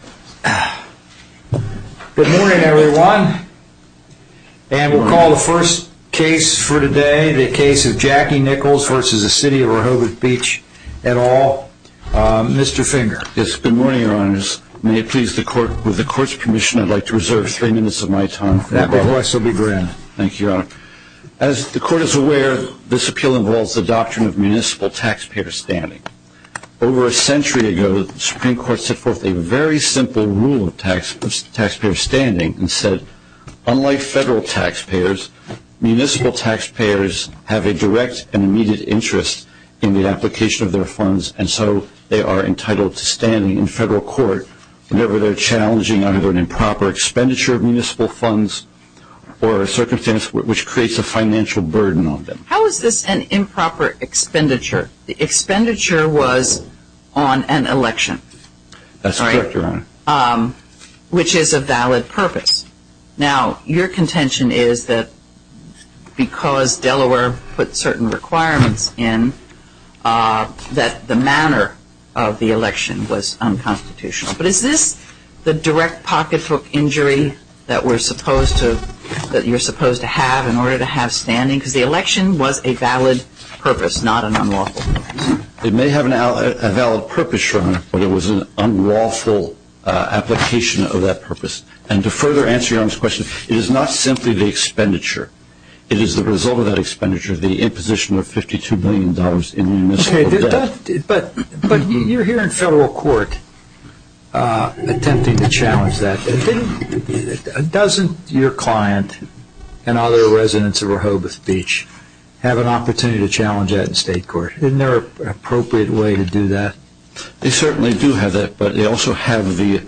Good morning everyone, and we'll call the first case for today, the case of Jackie Nichols v. City of Rehoboth Beach et al., Mr. Finger. Yes, good morning, your honors. May it please the court, with the court's permission, I'd like to reserve three minutes of my time. That behoves Sylvie Grand. Thank you, your honor. As the court is aware, this appeal involves the doctrine of municipal taxpayer standing. Over a century ago, the Supreme Court set forth a very simple rule of taxpayer standing and said, unlike federal taxpayers, municipal taxpayers have a direct and immediate interest in the application of their funds, and so they are entitled to standing in federal court whenever they're challenging either an improper expenditure of municipal funds or a circumstance which creates a financial burden on them. How is this an improper expenditure? The expenditure was on an election. That's correct, your honor. Which is a valid purpose. Now, your contention is that because Delaware put certain requirements in, that the manner of the election was unconstitutional. But is this the direct pocket hook injury that you're supposed to have in order to have standing? Because the election was a valid purpose, not an unlawful purpose. It may have a valid purpose, your honor, but it was an unlawful application of that purpose. And to further answer your honor's question, it is not simply the expenditure. It is the result of that expenditure, the imposition of $52 million in municipal debt. But you're here in federal court attempting to challenge that. Doesn't your client and other residents of Rehoboth Beach have an opportunity to challenge that in state court? Isn't there an appropriate way to do that? They certainly do have that, but they also have the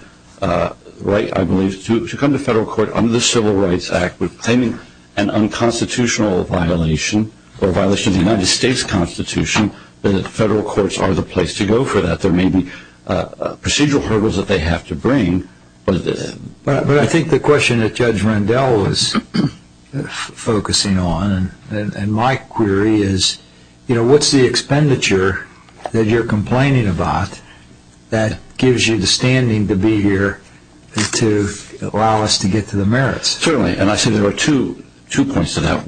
right, I believe, to come to federal court under the Civil Rights Act claiming an unconstitutional violation or a violation of the United States Constitution. The federal courts are the place to go for that. There may be procedural hurdles that they have to bring. But I think the question that Judge Rendell was focusing on and my query is, what's the expenditure that you're complaining about that gives you the standing to be here to allow us to get to the merits? Certainly, and I think there are two points to that.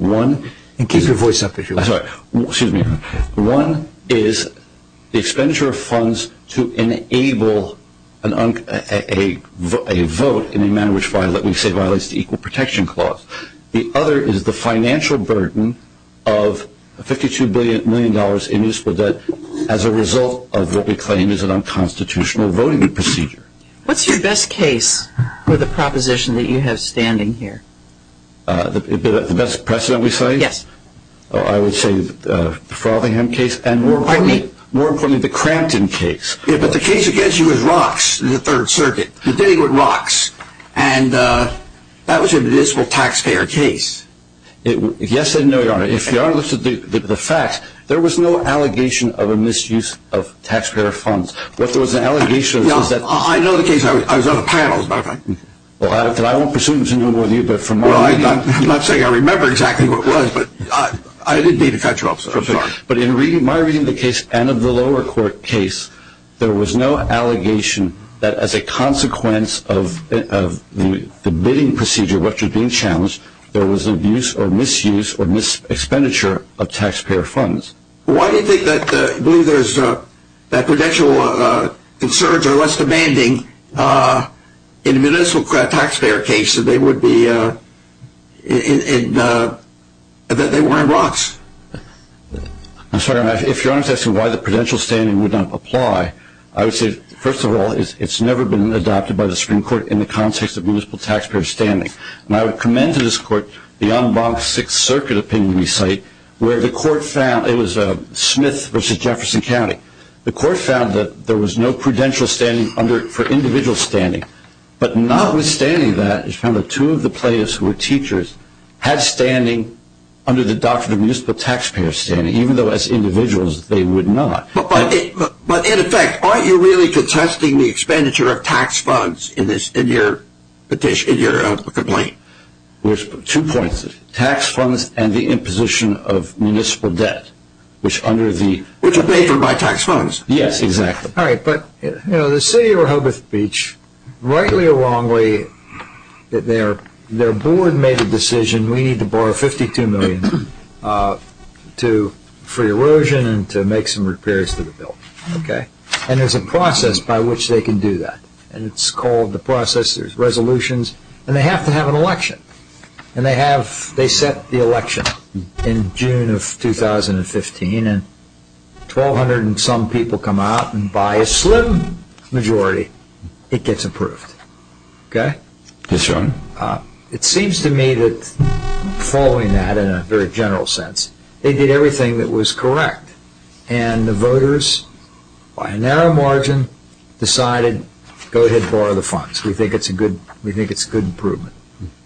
Keep your voice up if you like. Excuse me. One is the expenditure of funds to enable a vote in a manner which violates the Equal Protection Clause. The other is the financial burden of $52 million in municipal debt as a result of what we claim is an unconstitutional voting procedure. What's your best case with the proposition that you have standing here? The best precedent we cite? Yes. I would say the Frothingham case and more importantly, the Crampton case. But the case against you is ROCKS, the Third Circuit. You're bidding with ROCKS, and that was a municipal taxpayer case. Yes and no, Your Honor. If Your Honor looks at the facts, there was no allegation of a misuse of taxpayer funds. I know the case. I was on a panel, as a matter of fact. Well, I won't presume to know more than you. I'm not saying I remember exactly what it was, but I did need to catch up, so I'm sorry. But in my reading of the case and of the lower court case, there was no allegation that as a consequence of the bidding procedure which was being challenged, there was an abuse or misuse or mis-expenditure of taxpayer funds. Why do you believe that prudential concerns are less demanding in a municipal taxpayer case that they were in ROCKS? I'm sorry, Your Honor. If Your Honor is asking why the prudential standing would not apply, I would say, first of all, it's never been adopted by the Supreme Court in the context of municipal taxpayer standing. And I would commend to this court the unblocked Sixth Circuit opinion we cite, where the court found it was Smith v. Jefferson County. The court found that there was no prudential standing for individual standing. But notwithstanding that, it's found that two of the plaintiffs who were teachers had standing under the doctrine of municipal taxpayer standing, even though as individuals they would not. But in effect, aren't you really contesting the expenditure of tax funds in your complaint? There's two points. Tax funds and the imposition of municipal debt, which are paid for by tax funds. Yes, exactly. All right. But the city of Rehoboth Beach, rightly or wrongly, their board made the decision, we need to borrow $52 million for erosion and to make some repairs to the building. And there's a process by which they can do that. And it's called the process, there's resolutions, and they have to have an election. And they set the election in June of 2015, and 1,200 and some people come out, and by a slim majority, it gets approved. Yes, Your Honor. It seems to me that following that, in a very general sense, they did everything that was correct. And the voters, by a narrow margin, decided, go ahead, borrow the funds. We think it's a good improvement.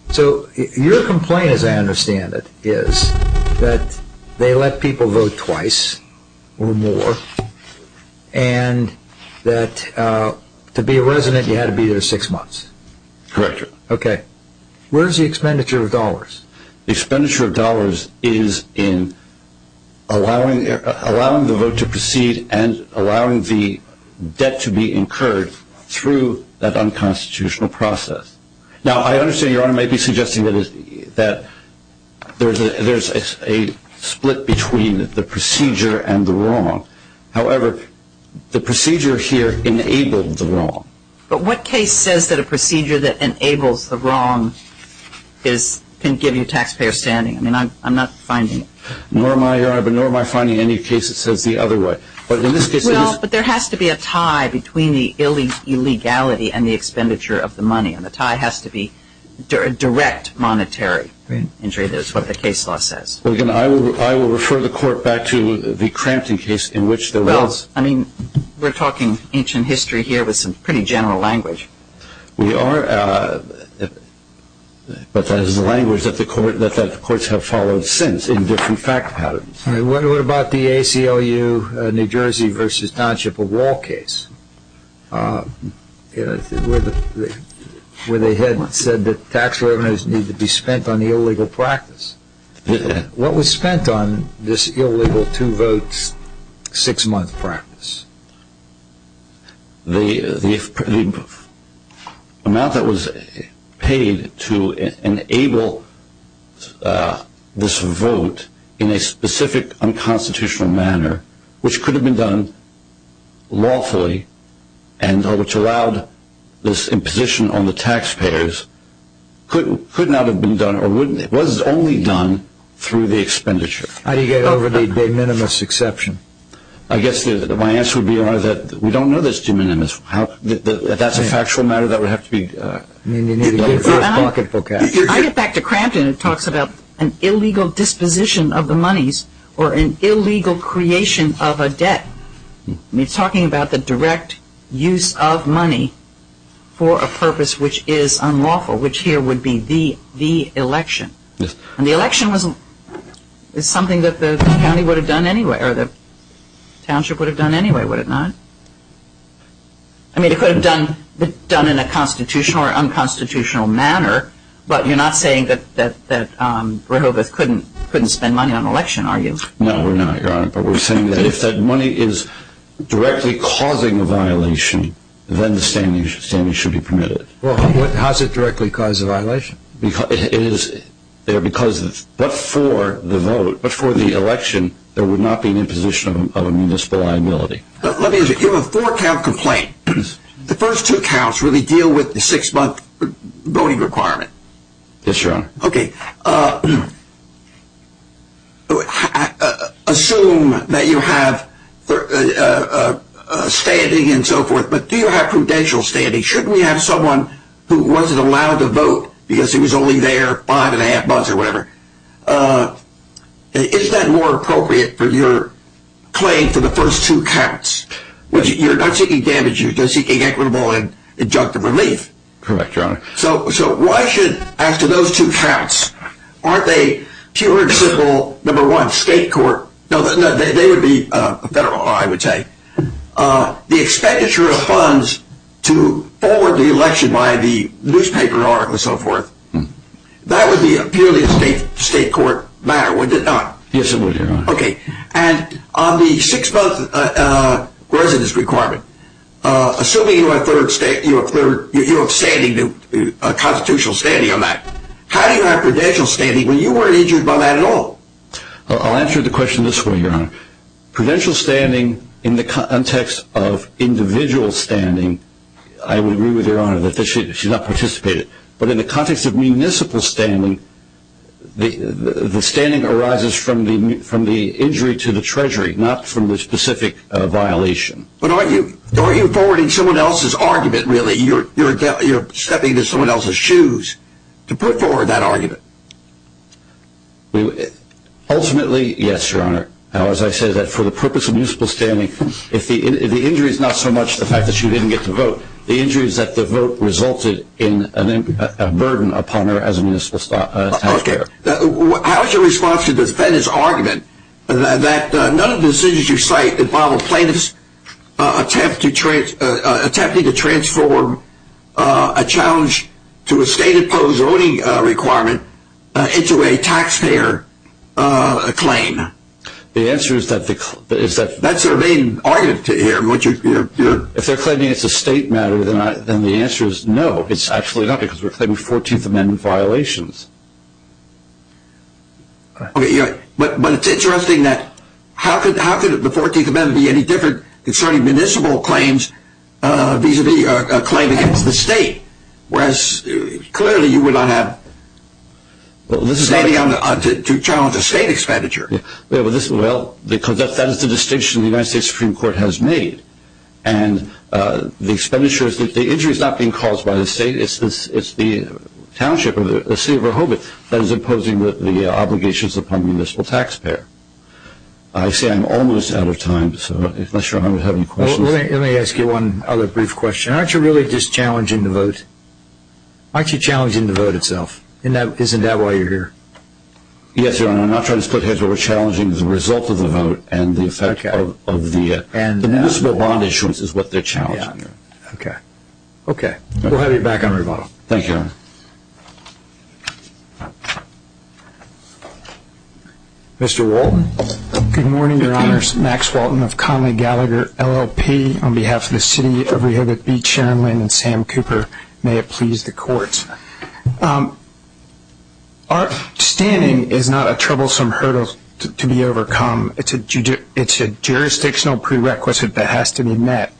So your complaint, as I understand it, is that they let people vote twice or more, and that to be a resident, you had to be there six months. Correct. Okay. Where is the expenditure of dollars? The expenditure of dollars is in allowing the vote to proceed and allowing the debt to be incurred through that unconstitutional process. Now, I understand Your Honor may be suggesting that there's a split between the procedure and the wrong. However, the procedure here enabled the wrong. But what case says that a procedure that enables the wrong can give you taxpayer standing? I mean, I'm not finding it. Nor am I, Your Honor, but nor am I finding any case that says the other way. But in this case it is. Well, but there has to be a tie between the illegality and the expenditure of the money, and the tie has to be direct monetary injury. That's what the case law says. Well, again, I will refer the Court back to the Crampton case in which there was. I mean, we're talking ancient history here with some pretty general language. We are. But that is the language that the courts have followed since in different fact patterns. What about the ACLU New Jersey v. Township of Wall case where they had said that tax revenues need to be spent on the illegal practice? What was spent on this illegal two-votes, six-month practice? The amount that was paid to enable this vote in a specific unconstitutional manner, which could have been done lawfully and which allowed this imposition on the taxpayers, could not have been done or was only done through the expenditure. How do you get over the de minimis exception? I guess my answer would be that we don't know this de minimis. If that's a factual matter, that would have to be done in the first bucket. I get back to Crampton. It talks about an illegal disposition of the monies or an illegal creation of a debt. It's talking about the direct use of money for a purpose which is unlawful, which here would be the election. And the election is something that the county would have done anyway or the township would have done anyway, would it not? I mean, it could have been done in a constitutional or unconstitutional manner, but you're not saying that Rehoboth couldn't spend money on an election, are you? No, we're not, Your Honor. But we're saying that if that money is directly causing a violation, then the standing should be permitted. Well, how does it directly cause a violation? It is there because but for the vote, but for the election, there would not be an imposition of a municipal liability. Let me give you a four-count complaint. The first two counts really deal with the six-month voting requirement. Yes, Your Honor. Okay. Assume that you have standing and so forth, but do you have prudential standing? Shouldn't we have someone who wasn't allowed to vote because he was only there five and a half months or whatever? Isn't that more appropriate for your claim for the first two counts? You're not seeking damage, you're just seeking equitable and injunctive relief. Correct, Your Honor. So why should, as to those two counts, aren't they pure and simple, number one, state court? No, they would be federal, I would say. The expenditure of funds to forward the election by the newspaper or so forth, that would be purely a state court matter, would it not? Yes, it would, Your Honor. Okay. And on the six-month residence requirement, assuming you have standing, constitutional standing on that, how do you have prudential standing when you weren't injured by that at all? I'll answer the question this way, Your Honor. Prudential standing in the context of individual standing, I would agree with Your Honor that she's not participated, but in the context of municipal standing, the standing arises from the injury to the treasury, not from the specific violation. But aren't you forwarding someone else's argument, really? You're stepping into someone else's shoes to put forward that argument. Ultimately, yes, Your Honor. Now, as I said, for the purpose of municipal standing, the injury is not so much the fact that she didn't get to vote. The injury is that the vote resulted in a burden upon her as a municipal taxpayer. Okay. How is your response to the defendant's argument that none of the decisions you cite involve plaintiffs attempting to transform a challenge to a state-imposed voting requirement into a taxpayer claim? The answer is that the claim is that they're claiming it's a state-made claim. If that doesn't matter, then the answer is no, it's actually not, because we're claiming 14th Amendment violations. But it's interesting that how could the 14th Amendment be any different concerning municipal claims vis-à-vis a claim against the state, whereas clearly you would not have standing to challenge a state expenditure. Well, because that is the distinction the United States Supreme Court has made, and the expenditure is that the injury is not being caused by the state. It's the township or the city of Rehoboth that is imposing the obligations upon the municipal taxpayer. I say I'm almost out of time, so unless Your Honor would have any questions. Let me ask you one other brief question. Aren't you really just challenging the vote? Aren't you challenging the vote itself? Isn't that why you're here? Yes, Your Honor. The municipal bond issuance is what they're challenging. Okay. We'll have you back on rebuttal. Thank you, Your Honor. Mr. Walton. Good morning, Your Honors. Max Walton of Conley Gallagher, LLP, on behalf of the city of Rehoboth Beach, Sharon Lynn, and Sam Cooper. May it please the Court. Our standing is not a troublesome hurdle to be overcome. It's a jurisdictional prerequisite that has to be met.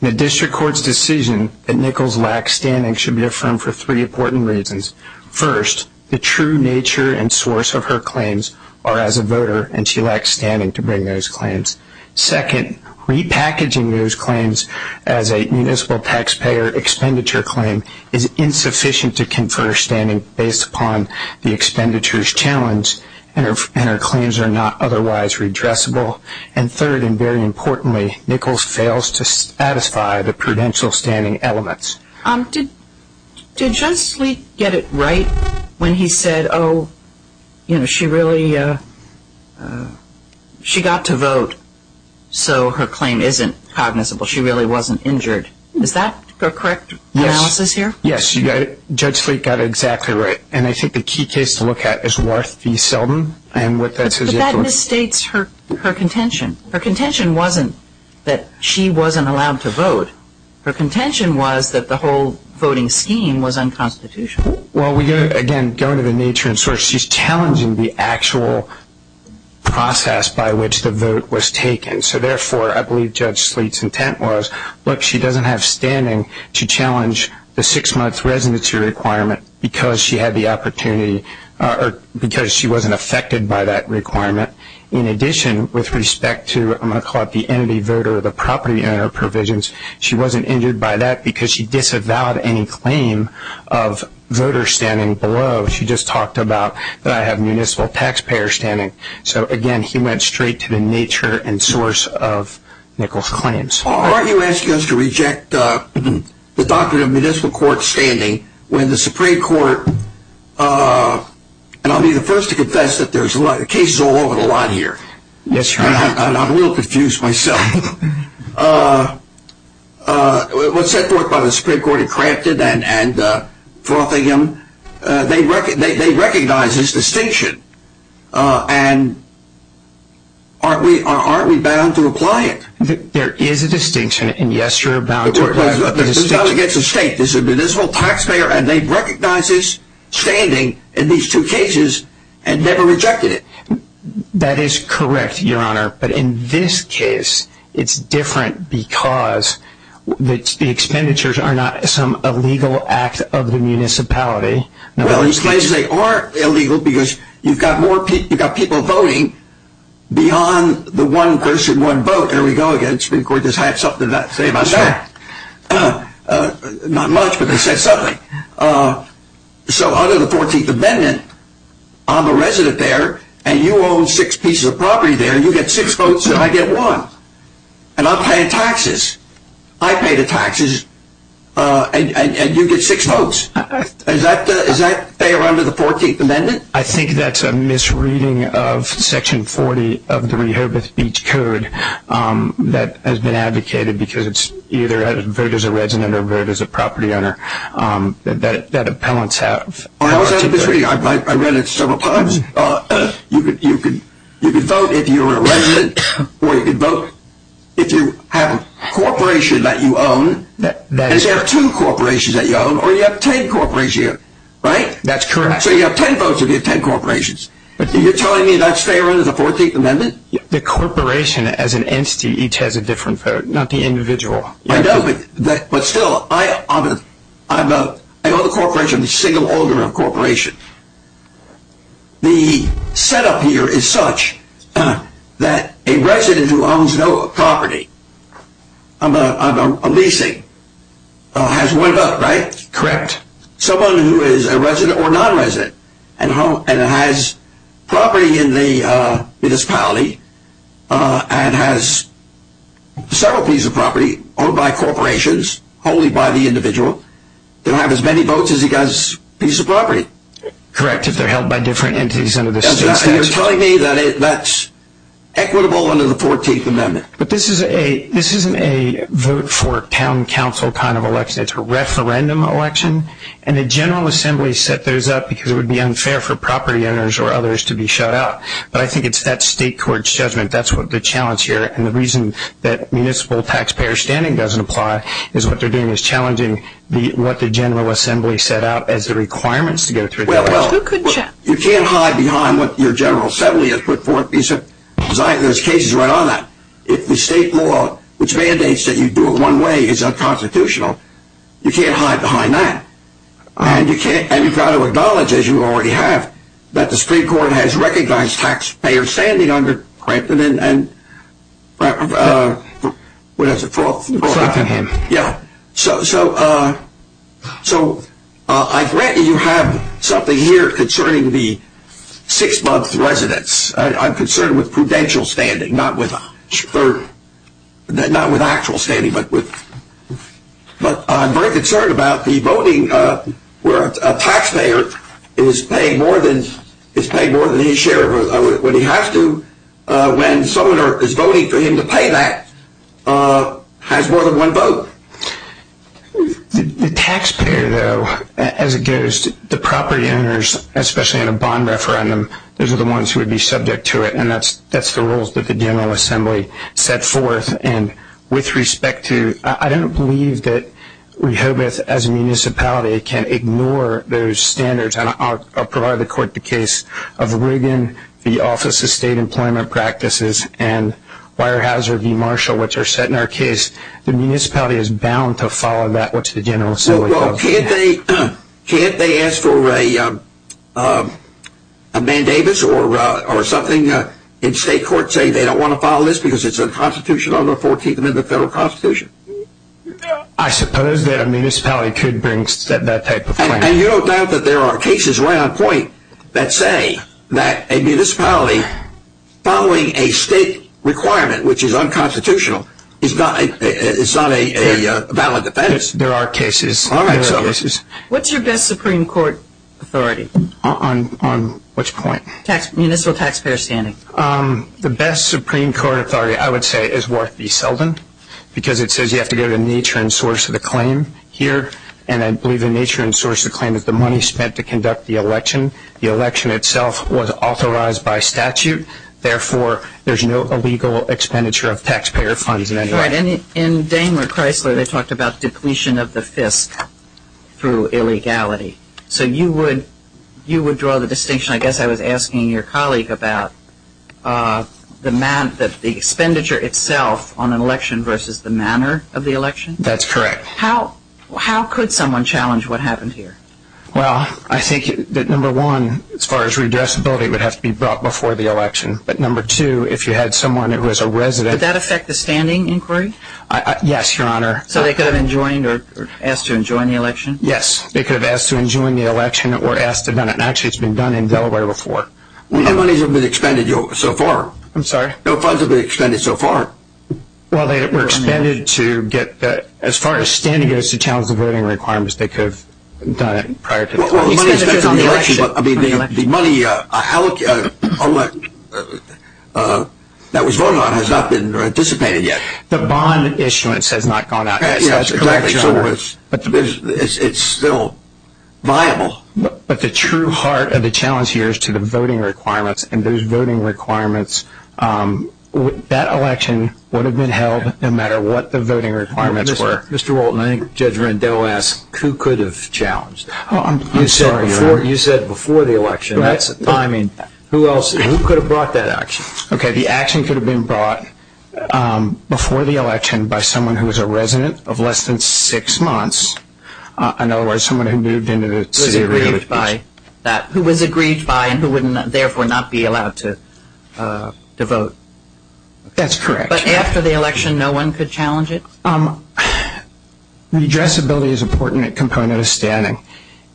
The district court's decision that Nichols lacks standing should be affirmed for three important reasons. First, the true nature and source of her claims are as a voter, and she lacks standing to bring those claims. Second, repackaging those claims as a municipal taxpayer expenditure claim is insufficient to confer standing based upon the expenditure's challenge, and her claims are not otherwise redressable. And third, and very importantly, Nichols fails to satisfy the prudential standing elements. Did Judge Sleek get it right when he said, oh, you know, she got to vote so her claim isn't cognizable, she really wasn't injured? Is that a correct analysis here? Yes. Judge Sleek got it exactly right, and I think the key case to look at is Worth v. Selden. But that misstates her contention. Her contention wasn't that she wasn't allowed to vote. Her contention was that the whole voting scheme was unconstitutional. Well, again, going to the nature and source, she's challenging the actual process by which the vote was taken. So, therefore, I believe Judge Sleek's intent was, look, she doesn't have standing to challenge the six-month residency requirement because she had the opportunity or because she wasn't affected by that requirement. In addition, with respect to, I'm going to call it the entity voter, the property owner provisions, she wasn't injured by that because she disavowed any claim of voter standing below. She just talked about that I have municipal taxpayer standing. So, again, he went straight to the nature and source of Nichols' claims. Aren't you asking us to reject the doctrine of municipal court standing when the Supreme Court, and I'll be the first to confess that there's cases all over the line here. I'm a little confused myself. What's said forth by the Supreme Court in Crampton and Frothingham, they recognize this distinction. And aren't we bound to apply it? There is a distinction, and yes, you're bound to apply it. It's not against the state. This is a municipal taxpayer, and they recognize this standing in these two cases and never rejected it. That is correct, Your Honor. But in this case, it's different because the expenditures are not some illegal act of the municipality. Well, he claims they are illegal because you've got people voting beyond the one person, one vote. There we go again. The Supreme Court just had something to say about that. Not much, but they said something. So under the 14th Amendment, I'm a resident there, and you own six pieces of property there, and you get six votes and I get one, and I'm paying taxes. I pay the taxes, and you get six votes. Is that fair under the 14th Amendment? I think that's a misreading of Section 40 of the Rehoboth Beach Code that has been advocated because it's either a vote as a resident or a vote as a property owner that appellants have. I read it several times. You can vote if you're a resident, or you can vote if you have a corporation that you own, and if you have two corporations that you own, or you have ten corporations, right? That's correct. So you have ten votes if you have ten corporations. Are you telling me that's fair under the 14th Amendment? The corporation as an entity each has a different vote, not the individual. I know, but still, I own a corporation, a single owner of a corporation. The setup here is such that a resident who owns no property, a leasing, has one vote, right? Correct. Someone who is a resident or non-resident and has property in the municipality and has several pieces of property owned by corporations, wholly by the individual, they'll have as many votes as he has a piece of property. Correct, if they're held by different entities under the same statute. You're telling me that that's equitable under the 14th Amendment? But this isn't a vote for town council kind of election. It's a referendum election, and the General Assembly set those up because it would be unfair for property owners or others to be shut out. But I think it's that state court's judgment that's the challenge here, and the reason that municipal taxpayer standing doesn't apply is what they're doing is challenging what the General Assembly set out as the requirements to go through. Well, you can't hide behind what your General Assembly has put forth. There's cases right on that. If the state law, which mandates that you do it one way, is unconstitutional, you can't hide behind that. And you've got to acknowledge, as you already have, that the Supreme Court has recognized taxpayer standing under Franklin and what is it? Franklin and him. Yeah. So I grant you you have something here concerning the six-month residence. I'm concerned with prudential standing, not with actual standing. But I'm very concerned about the voting where a taxpayer is paid more than his share. When he has to, when someone is voting for him to pay that, has more than one vote. The taxpayer, though, as it goes, the property owners, especially in a bond referendum, those are the ones who would be subject to it. And that's the rules that the General Assembly set forth. And with respect to, I don't believe that Rehoboth, as a municipality, can ignore those standards. And I'll provide the court the case of Rigan v. Office of State Employment Practices and Weyerhaeuser v. Marshall, which are set in our case. The municipality is bound to follow that, which the General Assembly does. Can't they ask for a mandamus or something in state court saying they don't want to follow this because it's unconstitutional under the 14th Amendment of the Federal Constitution? I suppose that a municipality could bring that type of claim. And you don't doubt that there are cases right on point that say that a municipality following a state requirement, which is unconstitutional, is not a valid defense. There are cases. There are cases. What's your best Supreme Court authority? On which point? Municipal taxpayer standing. The best Supreme Court authority, I would say, is Worth v. Selden because it says you have to go to the nature and source of the claim here. And I believe the nature and source of the claim is the money spent to conduct the election. The election itself was authorized by statute. Therefore, there's no illegal expenditure of taxpayer funds in any way. All right. In Daimler-Chrysler, they talked about depletion of the FISC through illegality. So you would draw the distinction, I guess I was asking your colleague, about the expenditure itself on an election versus the manner of the election? That's correct. How could someone challenge what happened here? Well, I think that, number one, as far as redressability, it would have to be brought before the election. But, number two, if you had someone who was a resident. Would that affect the standing inquiry? Yes, Your Honor. So they could have joined or asked to join the election? Yes. They could have asked to join the election or asked to do it. And, actually, it's been done in Delaware before. What money has been expended so far? I'm sorry? No funds have been expended so far. Well, they were expended to get, as far as standing goes to challenge the voting requirements, they could have done it prior to the election. The money that was voted on has not been dissipated yet. The bond issuance has not gone out yet. Yes, exactly. So it's still viable. But the true heart of the challenge here is to the voting requirements. And those voting requirements, that election would have been held no matter what the voting requirements were. Mr. Walton, I think Judge Rendell asked, who could have challenged? I'm sorry, Your Honor. You said before the election. I mean, who else? Who could have brought that action? Okay. The action could have been brought before the election by someone who was a resident of less than six months, in other words, someone who moved into the city. Who was aggrieved by that, who was aggrieved by and who would therefore not be allowed to vote. That's correct. But after the election, no one could challenge it? Redressability is an important component of standing.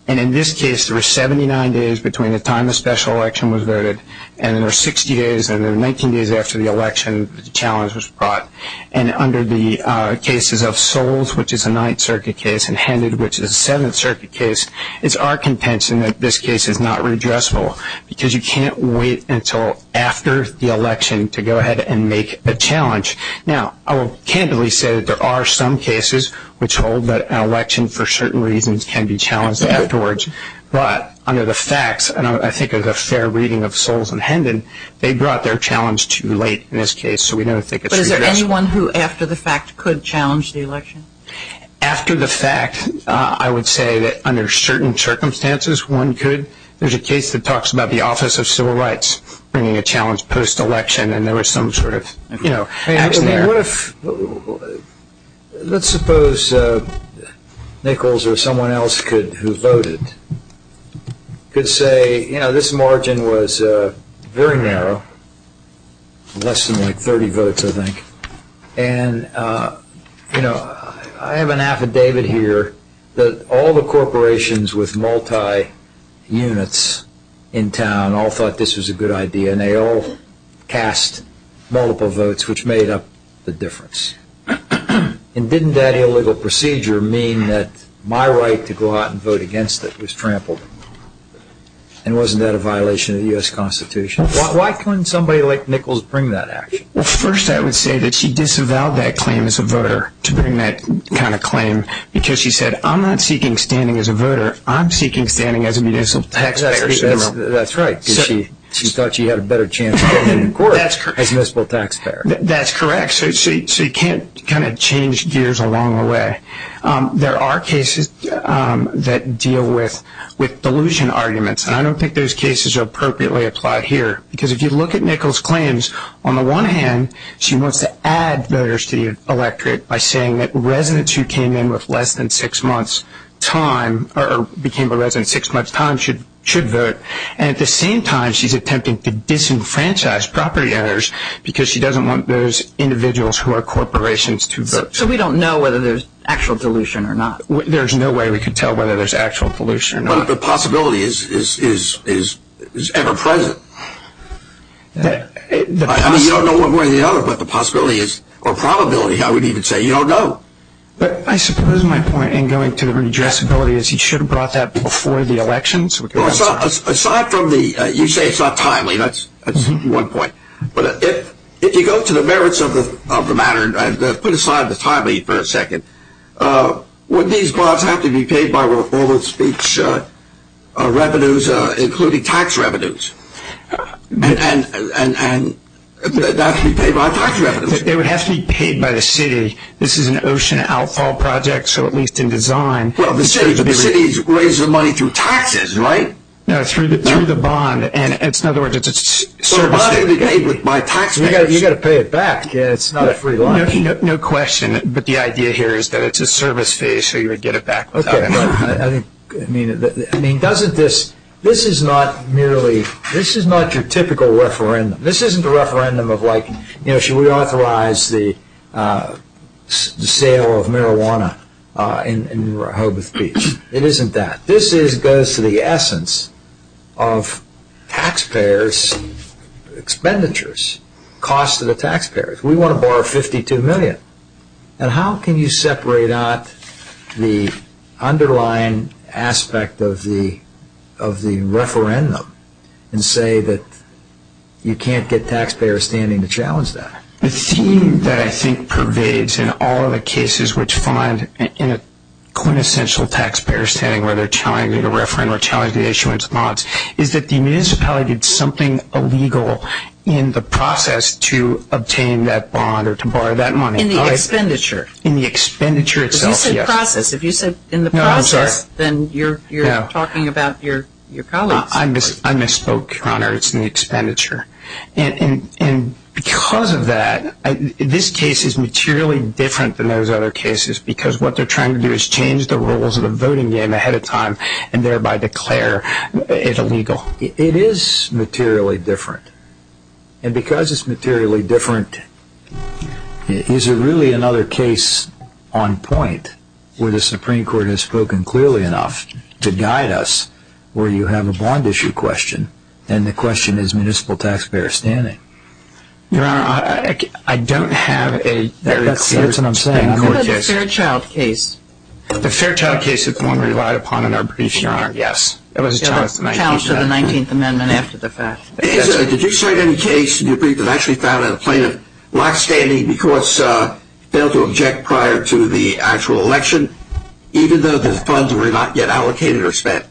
And in this case, there were 79 days between the time the special election was voted and there were 60 days and then 19 days after the election, the challenge was brought. And under the cases of Soles, which is a Ninth Circuit case, and Hendon, which is a Seventh Circuit case, it's our contention that this case is not redressable because you can't wait until after the election to go ahead and make the challenge. Now, I will candidly say that there are some cases which hold that an election, for certain reasons, can be challenged afterwards. But under the facts, and I think there's a fair reading of Soles and Hendon, they brought their challenge too late in this case, so we don't think it's redressable. But is there anyone who, after the fact, could challenge the election? After the fact, I would say that under certain circumstances, one could. There's a case that talks about the Office of Civil Rights bringing a challenge post-election and there was some sort of action there. Let's suppose Nichols or someone else who voted could say, you know, this margin was very narrow, less than like 30 votes, I think. And, you know, I have an affidavit here that all the corporations with multi-units in town all thought this was a good idea and they all cast multiple votes, which made up the difference. And didn't that illegal procedure mean that my right to go out and vote against it was trampled? And wasn't that a violation of the U.S. Constitution? Why couldn't somebody like Nichols bring that action? Well, first I would say that she disavowed that claim as a voter, to bring that kind of claim, because she said, I'm not seeking standing as a voter, I'm seeking standing as a municipal taxpayer. That's right, because she thought she had a better chance of going to court as a municipal taxpayer. That's correct. So you can't kind of change gears along the way. There are cases that deal with delusion arguments, and I don't think those cases are appropriately applied here. Because if you look at Nichols' claims, on the one hand, she wants to add voters to the electorate by saying that residents who came in with less than six months' time should vote, and at the same time she's attempting to disenfranchise property owners because she doesn't want those individuals who are corporations to vote. So we don't know whether there's actual delusion or not? There's no way we can tell whether there's actual delusion or not. But the possibility is ever-present. I mean, you don't know one way or the other, but the possibility is, or probability, I would even say, you don't know. But I suppose my point in going to the redressability is he should have brought that before the elections. Aside from the you say it's not timely, that's one point. But if you go to the merits of the matter and put aside the timely for a second, would these bonds have to be paid by formal speech revenues, including tax revenues, and not to be paid by tax revenues? They would have to be paid by the city. This is an ocean outfall project, so at least in design. Well, the city's raising the money through taxes, right? No, through the bond. In other words, it's a service fee. So the bond would be paid with my tax payers? You've got to pay it back. It's not a free life. No question. But the idea here is that it's a service fee, so you would get it back without it. Okay. I mean, doesn't this, this is not merely, this is not your typical referendum. This isn't a referendum of like, you know, should we authorize the sale of marijuana in Hoboth Beach. It isn't that. This goes to the essence of tax payers' expenditures, cost to the tax payers. We want to borrow $52 million. And how can you separate out the underlying aspect of the referendum and say that you can't get tax payers standing to challenge that? The theme that I think pervades in all of the cases which find in a quintessential tax payers' standing where they're challenging a referendum or challenging the issuance of bonds is that the municipality did something illegal in the process to obtain that bond or to borrow that money. In the expenditure. In the expenditure itself, yes. Because you said process. If you said in the process, then you're talking about your colleagues. I misspoke, Your Honor. It's in the expenditure. And because of that, this case is materially different than those other cases because what they're trying to do is change the rules of the voting game ahead of time and thereby declare it illegal. It is materially different. And because it's materially different, is there really another case on point where the Supreme Court has spoken clearly enough to guide us where you have a bond issue question and the question is municipal tax payers' standing? Your Honor, I don't have a very clear... That's what I'm saying. What about the Fairchild case? The Fairchild case is the one we relied upon in our briefing, Your Honor. It was a challenge to the 19th Amendment. It was a challenge to the 19th Amendment after the fact. Did you cite any case in your brief that actually found a plaintiff not standing because he failed to object prior to the actual election, even though the funds were not yet allocated or spent?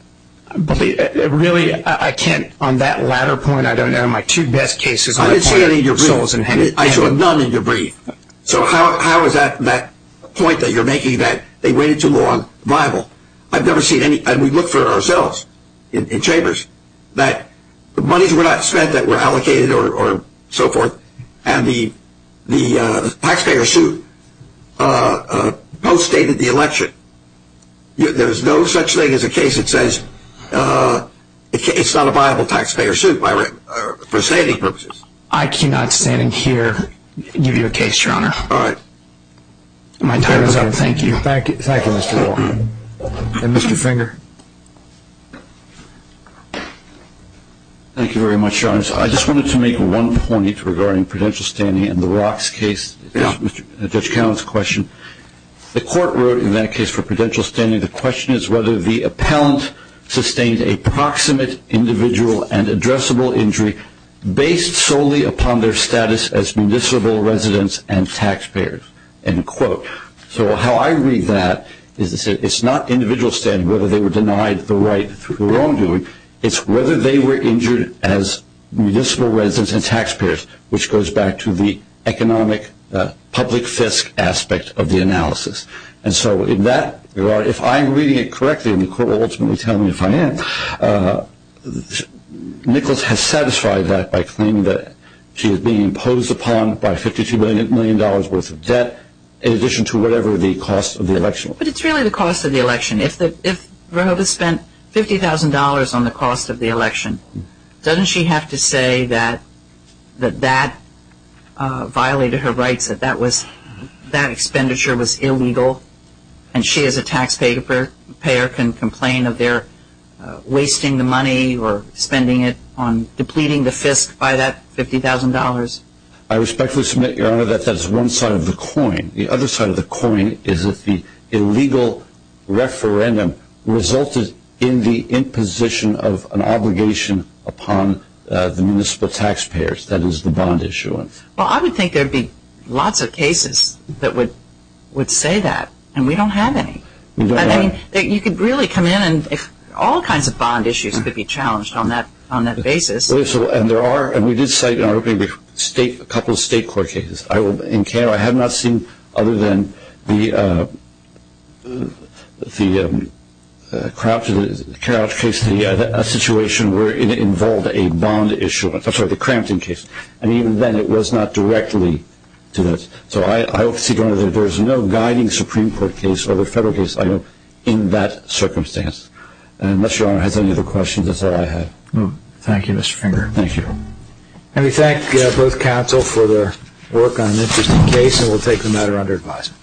Really, I can't... On that latter point, I don't know my two best cases. I didn't see any in your brief. I saw none in your brief. So how is that point that you're making that they waited too long viable? I've never seen any. And we looked for it ourselves in chambers, that the monies were not spent that were allocated or so forth and the taxpayer suit post-stated the election. There's no such thing as a case that says it's not a viable taxpayer suit for saving purposes. I cannot, standing here, give you a case, Your Honor. All right. My time is up. Thank you. Thank you, Mr. Wall. And Mr. Finger. Thank you very much, Your Honor. I just wanted to make one point regarding prudential standing in the Rocks case. It's Judge Cowen's question. The court wrote in that case for prudential standing, the question is whether the appellant sustained a proximate individual and addressable injury based solely upon their status as municipal residents and taxpayers, end quote. So how I read that is to say it's not individual standing, whether they were denied the right through the wrongdoing. It's whether they were injured as municipal residents and taxpayers, which goes back to the economic public fisc aspect of the analysis. And so in that regard, if I'm reading it correctly, and the court will ultimately tell me if I am, Nichols has satisfied that by claiming that she is being imposed upon by $52 million worth of debt in addition to whatever the cost of the election was. But it's really the cost of the election. If Roebuck spent $50,000 on the cost of the election, doesn't she have to say that that violated her rights, that that expenditure was illegal, and she as a taxpayer can complain of their wasting the money or spending it on depleting the fisc by that $50,000? I respectfully submit, Your Honor, that that's one side of the coin. The other side of the coin is if the illegal referendum resulted in the imposition of an obligation upon the municipal taxpayers, that is, the bond issuance. Well, I would think there would be lots of cases that would say that, and we don't have any. We don't have any. You could really come in and all kinds of bond issues could be challenged on that basis. And we did cite a couple of state court cases. I have not seen, other than the Crouch case, a situation where it involved a bond issuance. I'm sorry, the Crampton case. I mean, even then it was not directly to this. So I would see, Your Honor, that there is no guiding Supreme Court case or the federal case I know in that circumstance. Unless Your Honor has any other questions, that's all I have. Thank you, Mr. Finger. Thank you. And we thank both counsel for their work on an interesting case, and we'll take the matter under advisement.